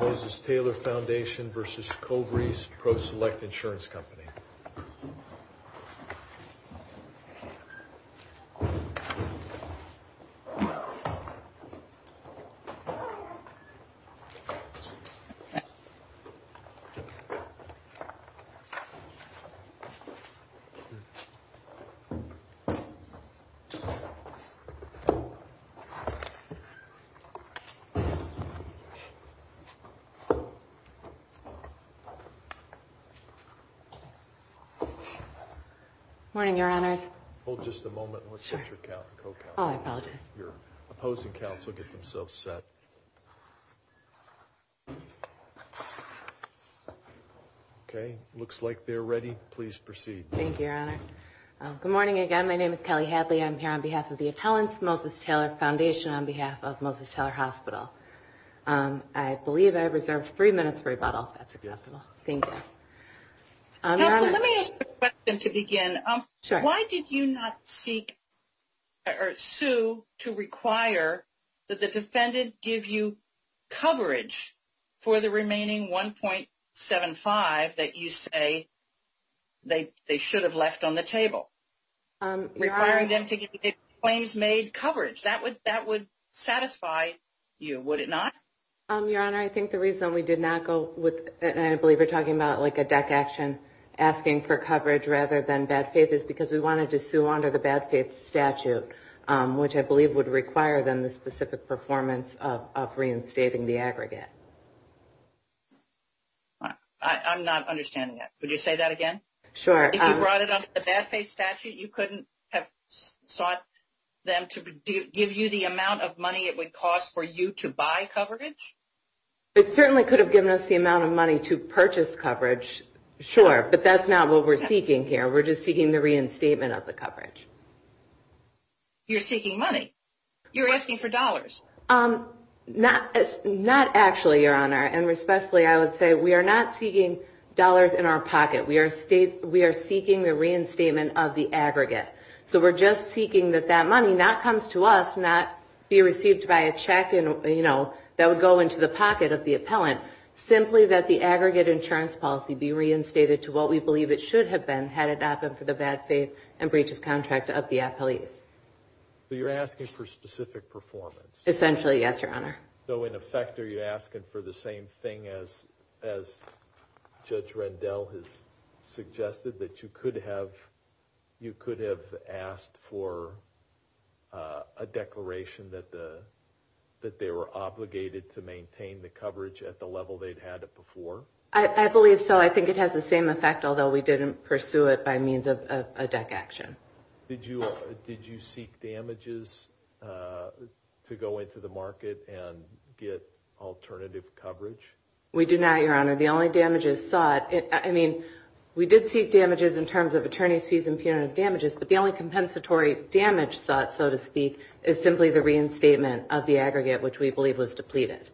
Mrs. Taylor Foundation v. ConverysProselect Insurance Company Morning, Your Honors. Hold just a moment and let's get your co-counsel. Oh, I apologize. Your opposing counsel, get themselves set. Okay, looks like they're ready. Please proceed. Thank you, Your Honor. Good morning again. My name is Kelly Hadley. I'm here on behalf of the appellants, Moses Taylor Foundation, on behalf of Moses Taylor Hospital. I believe I reserved three minutes for rebuttal. That's acceptable. Thank you. Counsel, let me ask you a question to begin. Sure. Why did you not seek or sue to require that the defendant give you coverage for the remaining 1.75 that you say they should have left on the table, requiring them to give you claims-made coverage? That would satisfy you, would it not? Your Honor, I think the reason we did not go with, and I believe you're talking about like a deck action, asking for coverage rather than bad faith, is because we wanted to sue under the bad faith statute, which I believe would require then the specific performance of reinstating the aggregate. I'm not understanding that. Would you say that again? Sure. If you brought it under the bad faith statute, you couldn't have sought them to give you the amount of money it would cost for you to buy coverage? It certainly could have given us the amount of money to purchase coverage, sure, but that's not what we're seeking here. We're just seeking the reinstatement of the coverage. You're seeking money? You're asking for dollars? Not actually, Your Honor, and respectfully I would say we are not seeking dollars in our pocket. We are seeking the reinstatement of the aggregate. So we're just seeking that that money not comes to us, not be received by a check that would go into the pocket of the appellant, simply that the aggregate insurance policy be reinstated to what we believe it should have been had it not been for the bad faith and breach of contract of the appellees. So you're asking for specific performance? Essentially, yes, Your Honor. So in effect, are you asking for the same thing as Judge Rendell has suggested, that you could have asked for a declaration that they were obligated to maintain the coverage at the level they'd had it before? I believe so. I think it has the same effect, although we didn't pursue it by means of a DEC action. Did you seek damages to go into the market and get alternative coverage? We did not, Your Honor. The only damages sought, I mean, we did seek damages in terms of attorney's fees and punitive damages, but the only compensatory damage sought, so to speak, is simply the reinstatement of the aggregate, which we believe was depleted.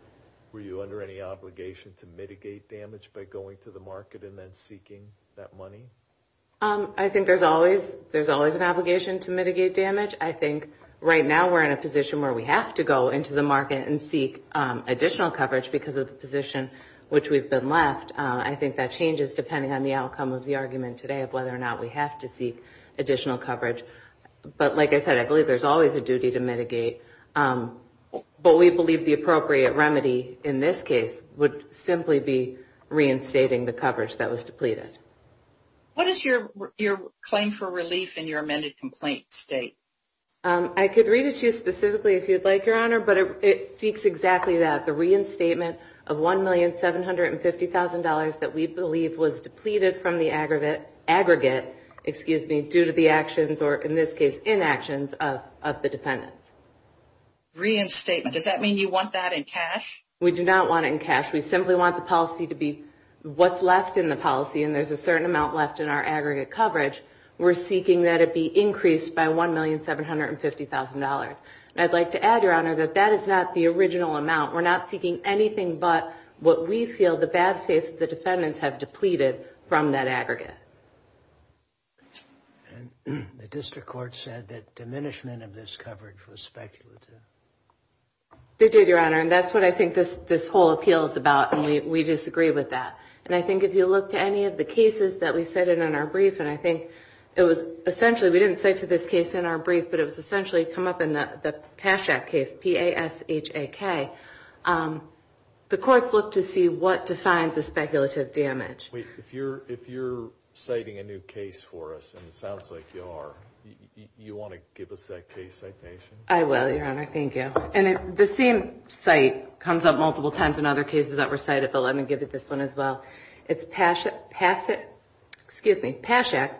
Were you under any obligation to mitigate damage by going to the market and then seeking that money? I think there's always an obligation to mitigate damage. I think right now we're in a position where we have to go into the market and seek additional coverage because of the position which we've been left. I think that changes depending on the outcome of the argument today of whether or not we have to seek additional coverage. But like I said, I believe there's always a duty to mitigate, but we believe the appropriate remedy in this case would simply be reinstating the coverage that was depleted. What does your claim for relief in your amended complaint state? I could read it to you specifically if you'd like, Your Honor, but it seeks exactly that, the reinstatement of $1,750,000 that we believe was depleted from the aggregate due to the actions or, in this case, inactions of the defendants. Reinstatement. Does that mean you want that in cash? We do not want it in cash. We simply want the policy to be what's left in the policy, and there's a certain amount left in our aggregate coverage. We're seeking that it be increased by $1,750,000. I'd like to add, Your Honor, that that is not the original amount. We're not seeking anything but what we feel the bad faith of the defendants have depleted from that aggregate. The district court said that diminishment of this coverage was speculative. They did, Your Honor, and that's what I think this whole appeal is about, and we disagree with that. And I think if you look to any of the cases that we cited in our brief, and I think it was essentially, we didn't say to this case in our brief, but it was essentially come up in the PASHAK case, P-A-S-H-A-K. The courts look to see what defines a speculative damage. Wait. If you're citing a new case for us, and it sounds like you are, you want to give us that case citation? I will, Your Honor. Thank you. And the same site comes up multiple times in other cases that were cited, but let me give you this one as well. It's PASHAK,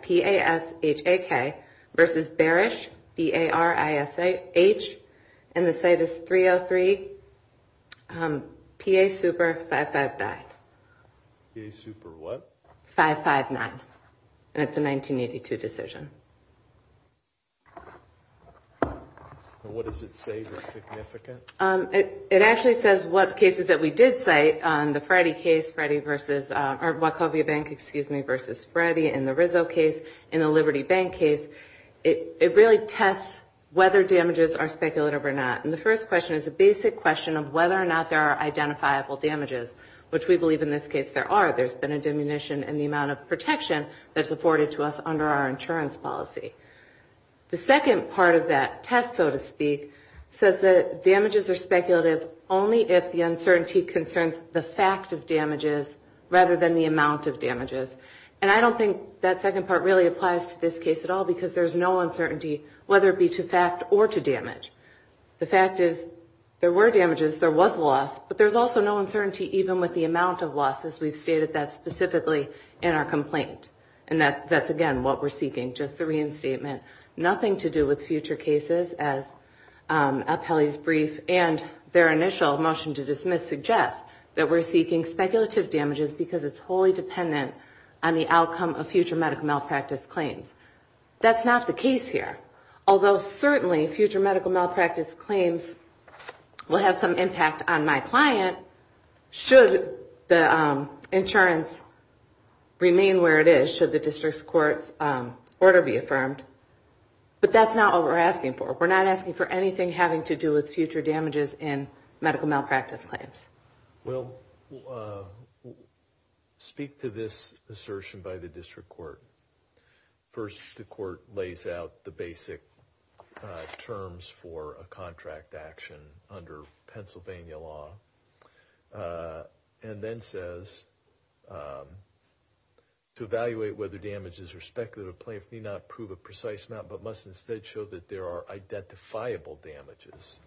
P-A-S-H-A-K, versus Barish, B-A-R-I-S-H, and the site is 303 PASuper559. PASuper what? 559, and it's a 1982 decision. And what does it say that's significant? It actually says what cases that we did cite on the Freddie case, Freddie versus, or Wachovia Bank, excuse me, versus Freddie in the Rizzo case, in the Liberty Bank case, it really tests whether damages are speculative or not. And the first question is a basic question of whether or not there are identifiable damages, which we believe in this case there are. There's been a diminution in the amount of protection that's afforded to us under our insurance policy. The second part of that test, so to speak, says that damages are speculative only if the uncertainty concerns the fact of damages rather than the amount of damages. And I don't think that second part really applies to this case at all because there's no uncertainty whether it be to fact or to damage. The fact is there were damages, there was loss, but there's also no uncertainty even with the amount of losses. We've stated that specifically in our complaint. And that's, again, what we're seeking, just the reinstatement. Nothing to do with future cases as Appelli's brief and their initial motion to dismiss suggests that we're seeking speculative damages because it's wholly dependent on the outcome of future medical malpractice claims. That's not the case here. Although certainly future medical malpractice claims will have some impact on my client should the insurance remain where it is, should the district court's order be affirmed. But that's not what we're asking for. We're not asking for anything having to do with future damages in medical malpractice claims. Well, speak to this assertion by the district court. First, the court lays out the basic terms for a contract action under Pennsylvania law. And then says, to evaluate whether damages or speculative claims may not prove a precise amount but must instead show that there are identifiable damages.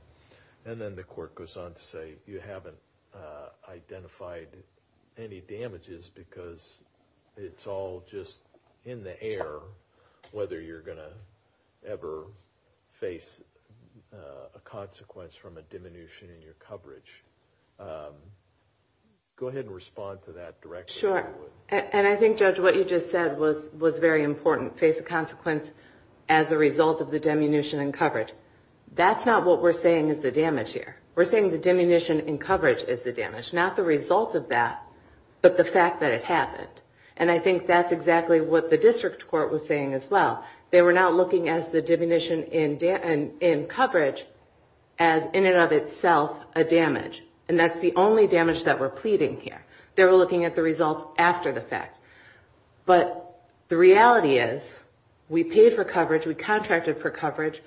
And then the court goes on to say you haven't identified any damages because it's all just in the air whether you're going to ever face a consequence from a diminution in your coverage. Go ahead and respond to that directly. Sure. And I think, Judge, what you just said was very important. Face a consequence as a result of the diminution in coverage. That's not what we're saying is the damage here. We're saying the diminution in coverage is the damage. Not the result of that, but the fact that it happened. And I think that's exactly what the district court was saying as well. And that's the only damage that we're pleading here. They were looking at the results after the fact. But the reality is we paid for coverage, we contracted for coverage,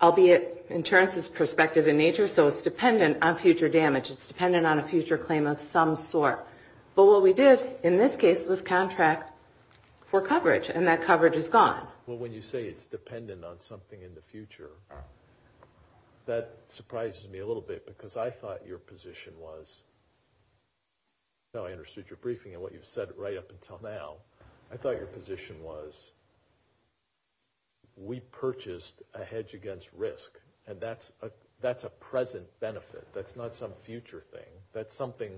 albeit insurance is prospective in nature, so it's dependent on future damage. It's dependent on a future claim of some sort. But what we did in this case was contract for coverage, and that coverage is gone. Well, when you say it's dependent on something in the future, that surprises me a little bit because I thought your position was, now I understood your briefing and what you've said right up until now, I thought your position was we purchased a hedge against risk, and that's a present benefit. That's not some future thing. That's something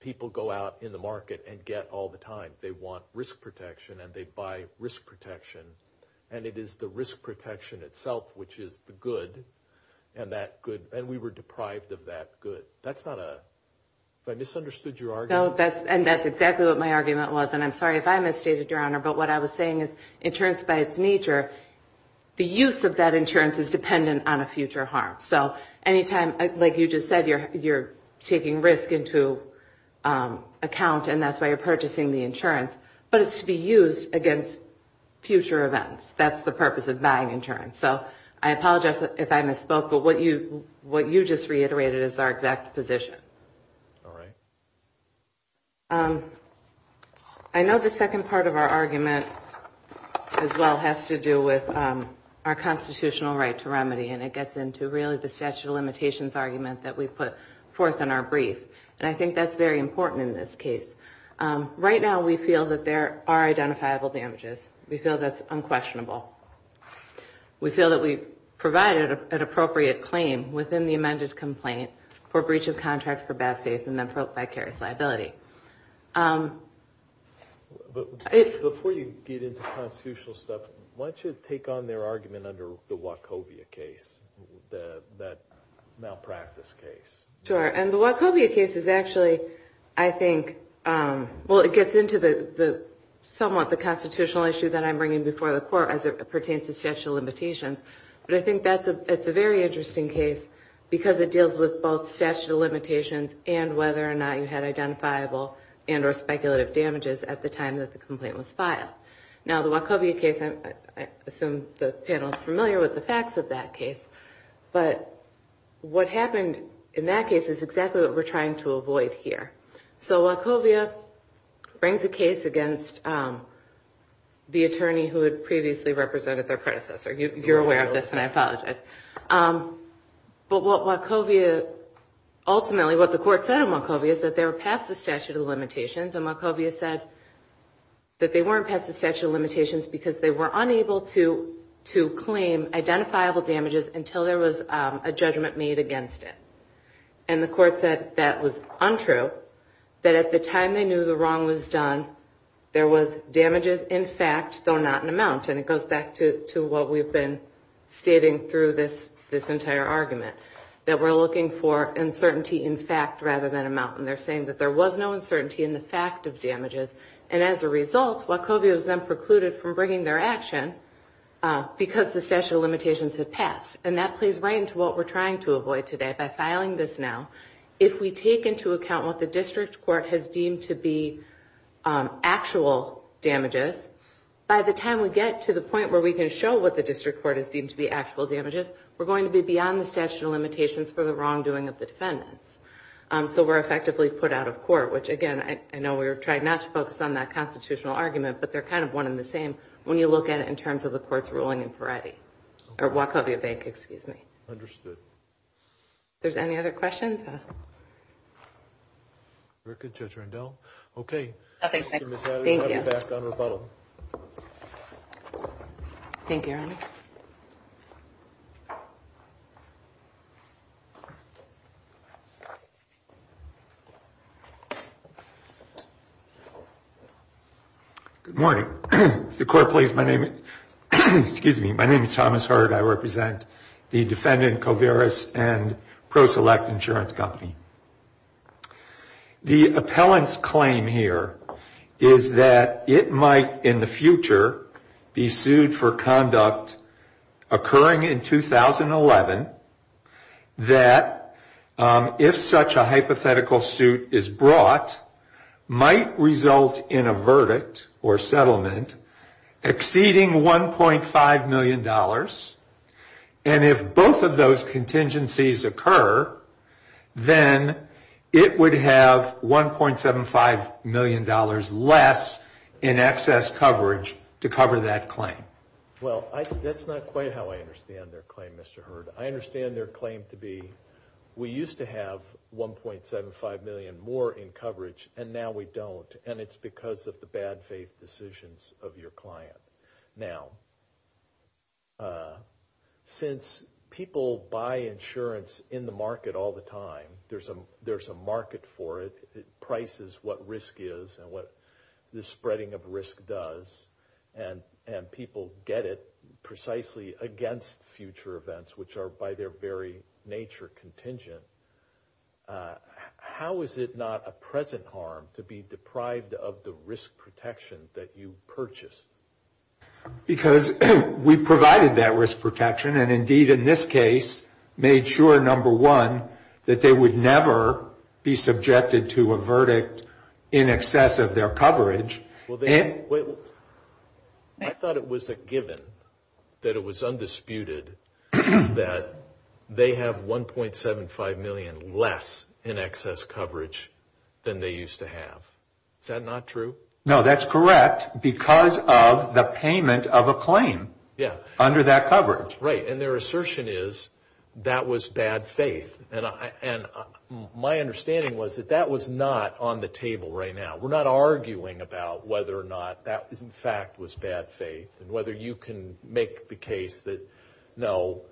people go out in the market and get all the time. They want risk protection and they buy risk protection, and it is the risk protection itself, which is the good, and that good, and we were deprived of that good. That's not a, have I misunderstood your argument? No, and that's exactly what my argument was, and I'm sorry if I misstated, Your Honor, but what I was saying is insurance by its nature, the use of that insurance is dependent on a future harm. So anytime, like you just said, you're taking risk into account and that's why you're purchasing the insurance, but it's to be used against future events. That's the purpose of buying insurance. So I apologize if I misspoke, but what you just reiterated is our exact position. All right. I know the second part of our argument as well has to do with our constitutional right to remedy, and it gets into really the statute of limitations argument that we put forth in our brief, and I think that's very important in this case. Right now, we feel that there are identifiable damages. We feel that's unquestionable. We feel that we provided an appropriate claim within the amended complaint for breach of contract for bad faith and then for vicarious liability. Before you get into constitutional stuff, why don't you take on their argument under the Wachovia case, that malpractice case? Sure, and the Wachovia case is actually, I think, well, it gets into somewhat the constitutional issue that I'm bringing before the court as it pertains to statute of limitations, but I think that's a very interesting case because it deals with both statute of limitations and whether or not you had identifiable and or speculative damages at the time that the complaint was filed. Now, the Wachovia case, I assume the panel is familiar with the facts of that case, but what happened in that case is exactly what we're trying to avoid here. So Wachovia brings a case against the attorney who had previously represented their predecessor. You're aware of this, and I apologize. But what Wachovia ultimately, what the court said in Wachovia is that they were past the statute of limitations, and Wachovia said that they weren't past the statute of limitations because they were unable to claim identifiable damages until there was a judgment made against it. And the court said that was untrue, that at the time they knew the wrong was done, there was damages in fact, though not in amount. And it goes back to what we've been stating through this entire argument, that we're looking for uncertainty in fact rather than amount. And they're saying that there was no uncertainty in the fact of damages, and as a result, Wachovia was then precluded from bringing their action because the statute of limitations had passed. And that plays right into what we're trying to avoid today by filing this now. If we take into account what the district court has deemed to be actual damages, by the time we get to the point where we can show what the district court has deemed to be actual damages, we're going to be beyond the statute of limitations for the wrongdoing of the defendants. So we're effectively put out of court, which again, I know we're trying not to focus on that constitutional argument, but they're kind of one and the same when you look at in terms of the court's ruling in Peretti, or Wachovia Bank, excuse me. Understood. If there's any other questions? Very good, Judge Randell. Okay. Thank you. Thank you, Your Honor. Good morning. If the court please, my name is Thomas Hurd. I represent the defendant, Covarris and ProSelect Insurance Company. The appellant's claim here is that it might in the future be sued for conduct occurring in 2011 that if such a hypothetical suit is brought, might result in a verdict or settlement exceeding $1.5 million, and if both of those contingencies occur, then it would have $1.75 million less in excess coverage to cover that claim. Well, that's not quite how I understand their claim, Mr. Hurd. I understand their claim to be, we used to have $1.75 million more in coverage, and now we don't, and it's because of the bad faith decisions of your client. Now, since people buy insurance in the market all the time, there's a market for it, it will get it precisely against future events, which are by their very nature contingent. How is it not a present harm to be deprived of the risk protection that you purchased? Because we provided that risk protection, and indeed in this case, made sure, number one, that they would never be subjected to a verdict in excess of their coverage. I thought it was a given that it was undisputed that they have $1.75 million less in excess coverage than they used to have. Is that not true? No, that's correct, because of the payment of a claim under that coverage. Right, and their assertion is that was bad faith, and my understanding was that that was not on the record. I'm not going to argue about whether or not that, in fact, was bad faith, and whether you can make the case that, no,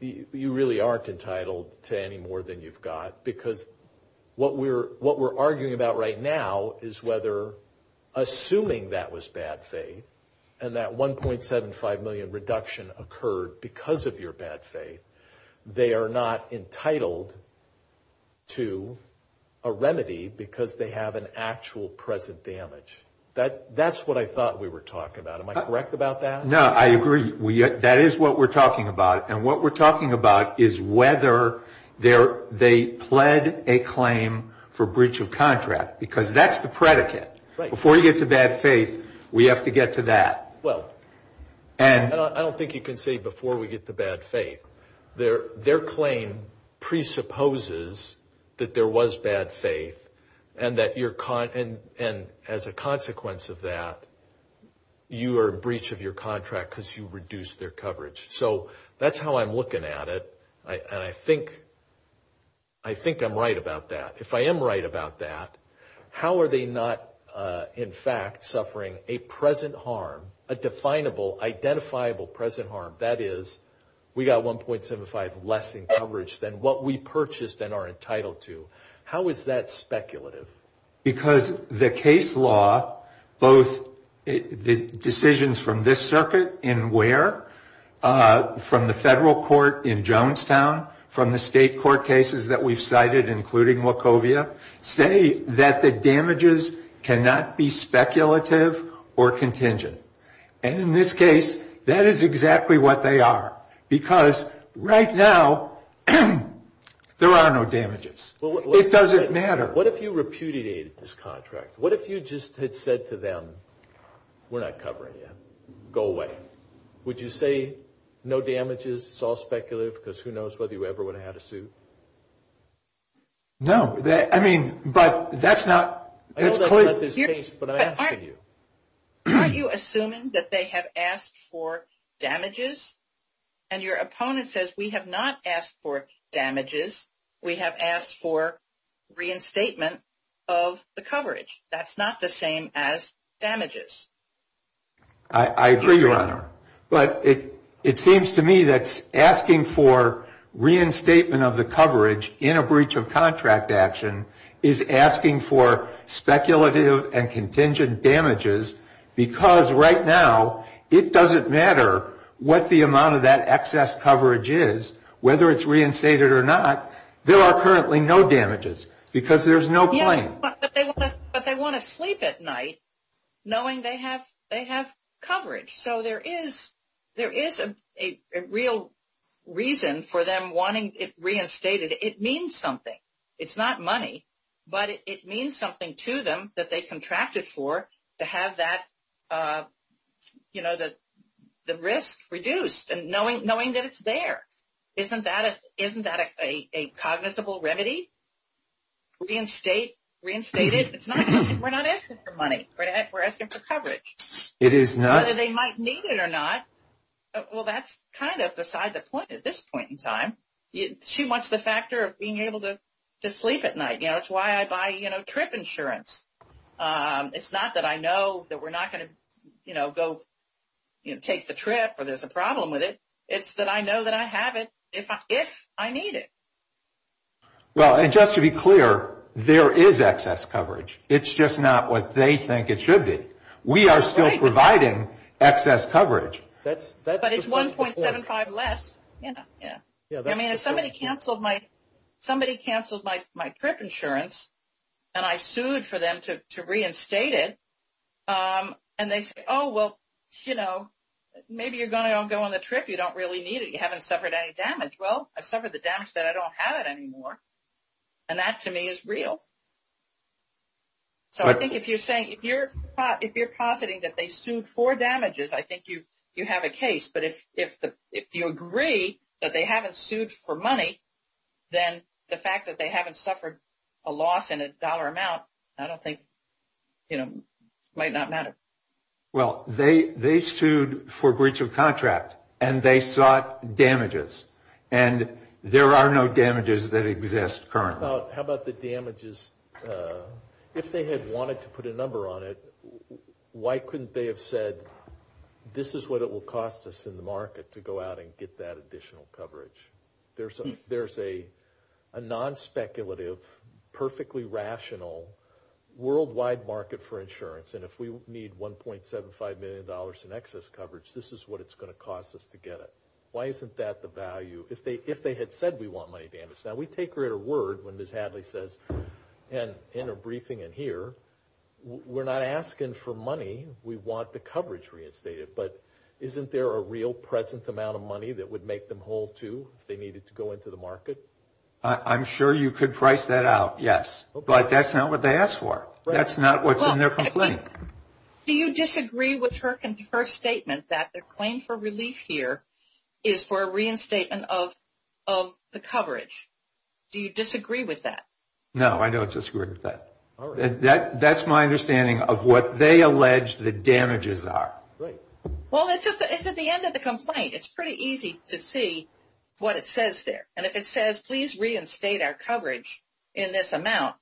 you really aren't entitled to any more than you've got, because what we're arguing about right now is whether, assuming that was bad faith, and that $1.75 million reduction occurred because of your bad faith, they are not entitled to a remedy because they have an actual present damage. That's what I thought we were talking about. Am I correct about that? No, I agree. That is what we're talking about, and what we're talking about is whether they pled a claim for breach of contract, because that's the predicate. Before you get to bad faith, we have to get to that. Well, I don't think you can say before we get to bad faith. Their claim presupposes that there was bad faith, and as a consequence of that, you are in breach of your contract because you reduced their coverage. So that's how I'm looking at it, and I think I'm right about that. If I am right about that, how are they not, in fact, suffering a present harm, a definable, identifiable present harm? That is, we got $1.75 less in coverage than what we purchased and are entitled to. How is that speculative? Because the case law, both the decisions from this circuit in Ware, from the federal court in Jonestown, from the state court cases that we've cited, including Wachovia, say that the damages cannot be speculative or contingent, and in this case, that is exactly what they are, because right now, there are no damages. It doesn't matter. What if you repudiated this contract? What if you just had said to them, we're not covering you. Go away. Would you say, no damages, it's all speculative, because who knows whether you ever would have had a suit? No. I mean, but that's not... Aren't you assuming that they have asked for damages? And your opponent says, we have not asked for damages, we have asked for reinstatement of the coverage. That's not the same as damages. I agree, Your Honor. But it seems to me that asking for reinstatement of the coverage in a breach of contract action is asking for speculative and contingent damages, because right now, it doesn't matter what the amount of that excess coverage is, whether it's reinstated or not, there are currently no damages, because there's no claim. But they want to sleep at night, knowing they have coverage. So there is a real reason for them wanting it reinstated. It means something. It's not money, but it means something to them that they contracted for, to have that, you know, the risk reduced, and knowing that it's there. Isn't that a cognizable remedy? Reinstate it. We're not asking for money. We're asking for coverage. It is not. Whether they might need it or not, well, that's kind of beside the point at this point in time. She wants the factor of being able to sleep at night. You know, it's why I buy, you know, trip insurance. It's not that I know that we're not going to, you know, go take the trip or there's a problem with it. It's that I know that I have it, if I need it. Well, and just to be clear, there is excess coverage. It's just not what they think it should be. We are still providing excess coverage. But it's 1.75 less. I mean, if somebody canceled my trip insurance, and I sued for them to reinstate it, and they say, oh, well, you know, maybe you're going to go on the trip. You don't really need it. You haven't suffered any damage. Well, I suffered the damage that I don't have it anymore. And that, to me, is real. So I think if you're saying, if you're positing that they sued for damages, I think you have a case. But if you agree that they haven't sued for money, then the fact that they haven't suffered a loss in a dollar amount, I don't think, you know, might not matter. Well, they sued for breach of contract, and they sought damages. And there are no damages that exist currently. How about the damages? If they had wanted to put a number on it, why couldn't they have said, this is what it will cost us in the market to go out and get that additional coverage? There's a non-speculative, perfectly rational, worldwide market for insurance. And if we need $1.75 million in excess coverage, this is what it's going to cost us to get it. Why isn't that the value? If they had said we want money damage. Now, we take her at her word when Ms. Hadley says, and in her briefing in here, we're not asking for money. We want the coverage reinstated. But isn't there a real present amount of money that would make them whole, too, if they needed to go into the market? I'm sure you could price that out, yes. But that's not what they asked for. That's not what's in their complaint. Do you disagree with her statement that the claim for relief here is for a reinstatement of the coverage? Do you disagree with that? No, I don't disagree with that. That's my understanding of what they allege the damages are. Well, it's at the end of the complaint. It's pretty easy to see what it says there. And if it says, please reinstate our coverage in this amount,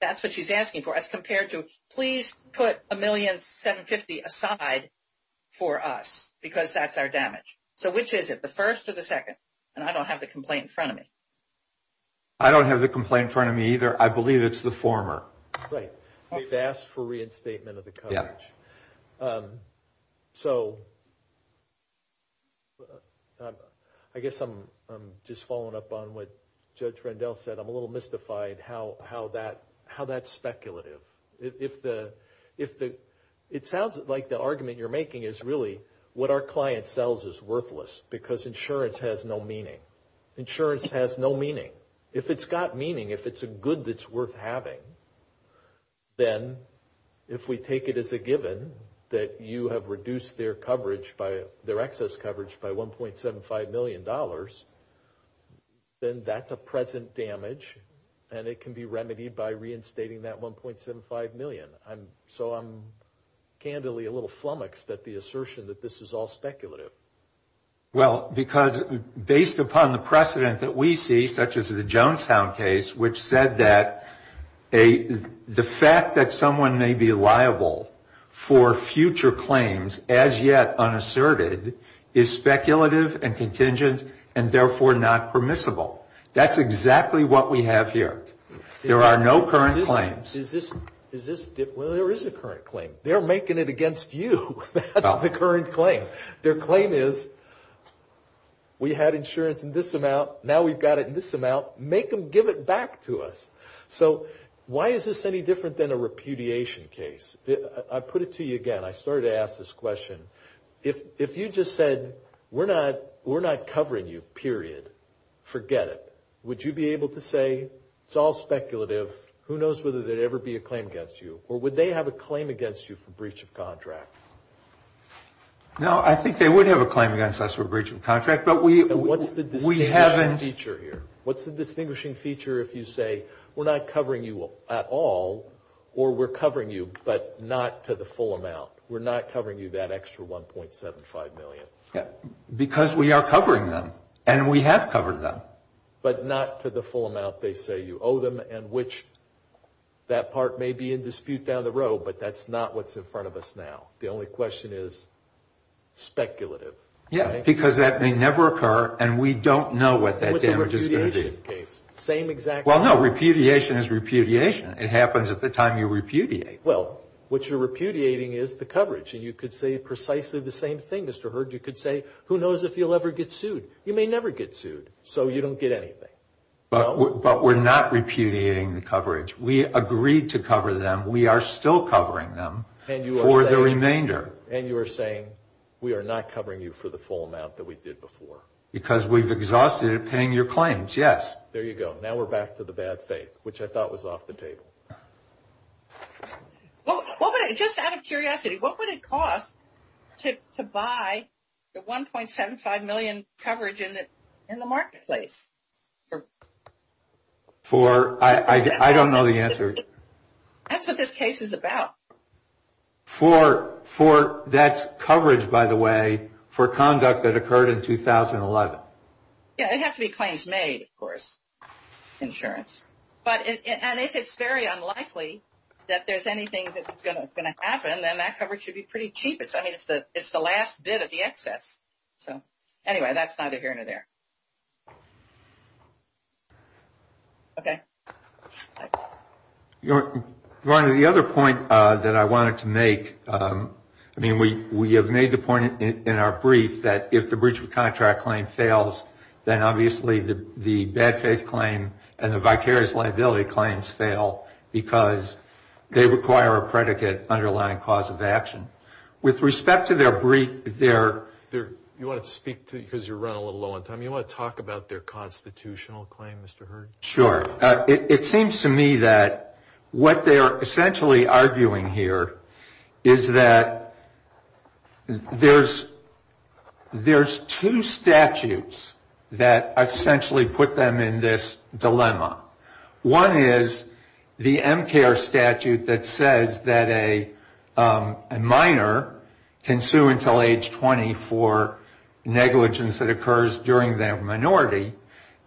that's what she's asking for. As compared to, please put $1,750,000 aside for us, because that's our damage. So which is it, the first or the second? And I don't have the complaint in front of me. I don't have the complaint in front of me either. I believe it's the former. Right. They've asked for reinstatement of the coverage. So I guess I'm just following up on what Judge Rendell said. I'm a little mystified how that's speculative. It sounds like the argument you're making is really what our client sells is worthless, because insurance has no meaning. Insurance has no meaning. If it's got meaning, if it's a good that's worth having, then if we take it as a given that you have reduced their coverage, their excess coverage by $1.75 million, then that's a present damage, and it can be remedied by reinstating that $1.75 million. So I'm candidly a little flummoxed at the assertion that this is all speculative. Well, because based upon the precedent that we see, such as the Jonestown case, which said that the fact that someone may be liable for future claims as yet unasserted is speculative and contingent and therefore not permissible. That's exactly what we have here. There are no current claims. Well, there is a current claim. They're making it against you. That's the current claim. Their claim is we had insurance in this amount, now we've got it in this amount, make them give it back to us. So why is this any different than a repudiation case? I put it to you again. I started to ask this question. If you just said we're not covering you, period, forget it, would you be able to say it's all speculative, who knows whether there would ever be a claim against you, or would they have a claim against you for breach of contract? No, I think they would have a claim against us for breach of contract, but we haven't. What's the distinguishing feature here? What's the distinguishing feature if you say we're not covering you at all, or we're covering you but not to the full amount? We're not covering you that extra $1.75 million. Because we are covering them, and we have covered them. But not to the full amount they say you owe them, and which that part may be in dispute down the road, but that's not what's in front of us now. The only question is speculative. Yeah, because that may never occur, and we don't know what that damage is going to be. Well, no, repudiation is repudiation. It happens at the time you repudiate. Well, what you're repudiating is the coverage, and you could say precisely the same thing, Mr. Hurd. You could say who knows if you'll ever get sued. You may never get sued, so you don't get anything. But we're not repudiating the coverage. We agreed to cover them. We are still covering them for the remainder. And you are saying we are not covering you for the full amount that we did before. Because we've exhausted it paying your claims, yes. There you go. Now we're back to the bad faith, which I thought was off the table. Just out of curiosity, what would it cost to buy the 1.75 million coverage in the marketplace? I don't know the answer. That's what this case is about. That's coverage, by the way, for conduct that occurred in 2011. It would have to be claims made, of course, insurance. And if it's very unlikely that there's anything that's going to happen, then that coverage should be pretty cheap. It's the last bit of the excess. Anyway, that's neither here nor there. Okay. Go on to the other point that I wanted to make. I mean, we have made the point in our brief that if the breach of contract claim fails, then obviously the bad faith claim and the vicarious liability claims fail because they require a predicate underlying cause of action. With respect to their breach, their ‑‑ You want to speak because you're running a little low on time. You want to talk about their constitutional claim, Mr. Hurd? Sure. It seems to me that what they're essentially arguing here is that there's two statutes that essentially put them in this dilemma. One is the MCARE statute that says that a minor can sue until age 20 for negligence that occurs during their minority.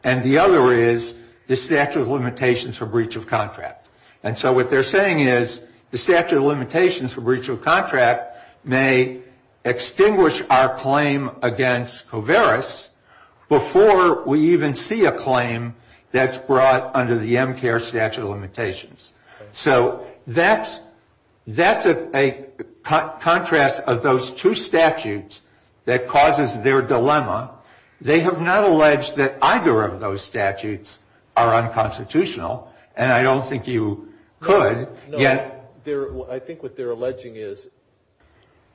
And the other is the statute of limitations for breach of contract. And so what they're saying is the statute of limitations for breach of contract may extinguish our claim against COVERAS before we even see a claim that's brought under the MCARE statute of limitations. So that's a contrast of those two statutes that causes their dilemma. They have not alleged that either of those statutes are unconstitutional. And I don't think you could. I think what they're alleging is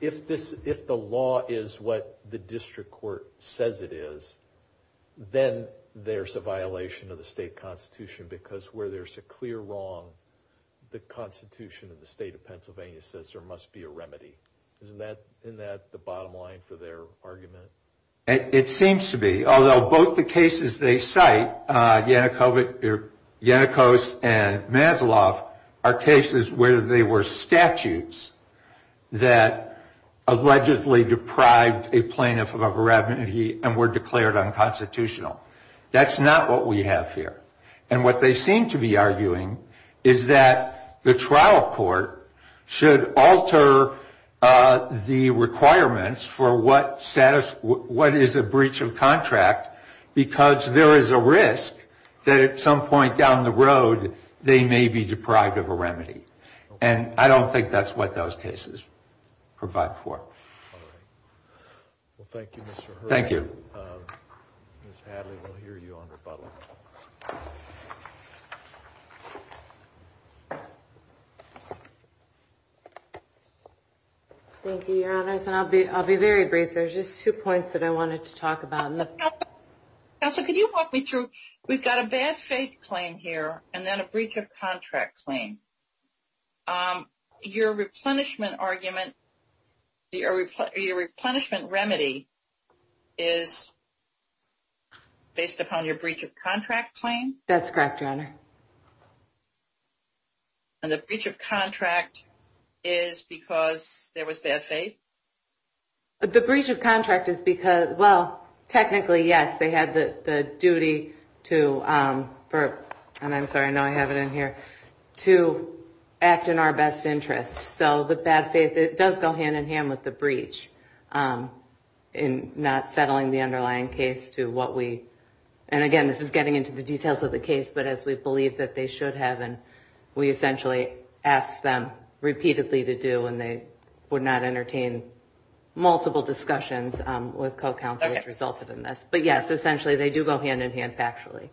if the law is what the district court says it is, then there's a violation of the state constitution because where there's a clear wrong, the constitution of the state of Pennsylvania says there must be a remedy. Isn't that the bottom line for their argument? It seems to be, although both the cases they cite, Yannikos and Maslow, are cases where they were statutes that allegedly deprived a plaintiff of a remedy and were declared unconstitutional. That's not what we have here. And what they seem to be arguing is that the trial court should alter the requirements for what is a breach of contract because there is a risk that at some point down the road they may be deprived of a remedy. And I don't think that's what those cases provide for. Well, thank you, Mr. Hurley. Thank you. Ms. Hadley, we'll hear you on rebuttal. Thank you, Your Honors. And I'll be very brief. There's just two points that I wanted to talk about. Counsel, could you walk me through? We've got a bad faith claim here and then a breach of contract claim. Your replenishment argument, your replenishment remedy is based upon your breach of contract claim? That's correct, Your Honor. And the breach of contract is because there was bad faith? The breach of contract is because, well, technically, yes, they had the duty to, and I'm sorry, I know I have it in here, to act in our best interest. So the bad faith, it does go hand in hand with the breach in not settling the underlying case to what we, and again, this is getting into the details of the case, but as we believe that they should have, and we essentially ask them repeatedly to do, and they would not entertain multiple discussions with co-counsel which resulted in this. But yes, essentially they do go hand in hand factually.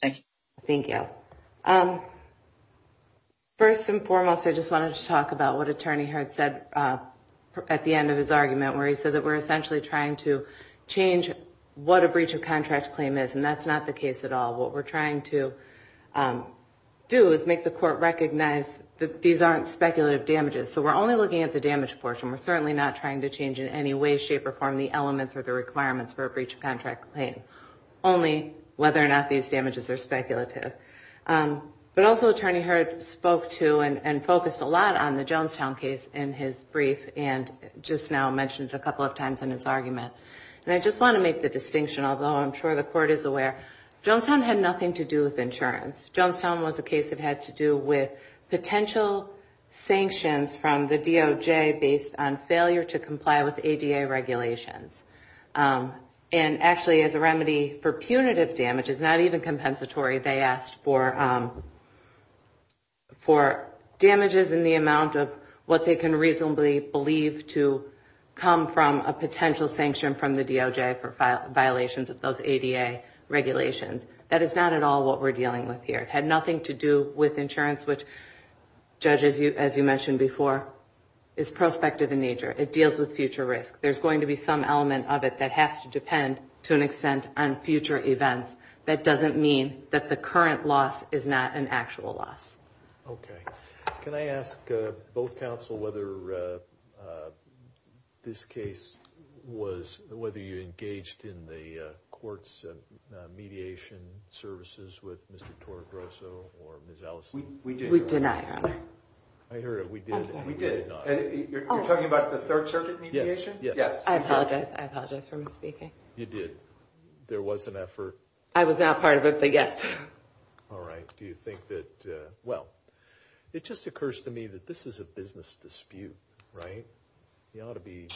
Thank you. First and foremost, I just wanted to talk about what Attorney Hart said at the end of his argument, where he said that we're essentially trying to change what a breach of contract claim is, and that's not the case at all. What we're trying to do is make the court recognize that these aren't speculative damages. So we're only looking at the damage portion. We're certainly not trying to change in any way, shape, or form the elements or the requirements for a breach of contract claim, only whether or not these damages are speculative. But also Attorney Hart spoke to and focused a lot on the Jonestown case in his brief and just now mentioned a couple of times in his argument. And I just want to make the distinction, although I'm sure the court is aware, Jonestown had nothing to do with insurance. Jonestown was a case that had to do with potential sanctions from the DOJ based on failure to comply with ADA regulations. And actually as a remedy for punitive damages, not even compensatory, they asked for damages in the amount of what they can reasonably believe to come from a potential sanction from the DOJ for violations of those ADA regulations. That is not at all what we're dealing with here. It had nothing to do with insurance, which, Judge, as you mentioned before, is prospective in nature. It deals with future risk. There's going to be some element of it that has to depend to an extent on future events. That doesn't mean that the current loss is not an actual loss. Okay. Can I ask both counsel whether this case was, whether you engaged in the court's mediation services with Mr. Torregrosso or Ms. Allison? We did not, Your Honor. I heard it. We did not. You're talking about the Third Circuit mediation? Yes. I apologize. I apologize for misspeaking. You did. There was an effort. I was not part of it, but yes. All right. Do you think that, well, it just occurs to me that this is a business dispute, right? You ought to be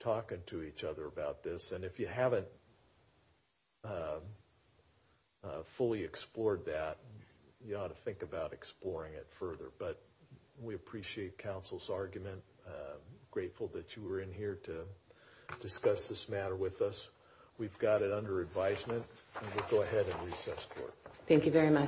talking to each other about this. And if you haven't fully explored that, you ought to think about exploring it further. But we appreciate counsel's argument. Grateful that you were in here to discuss this matter with us. We've got it under advisement, and we'll go ahead and recess the court. Thank you very much.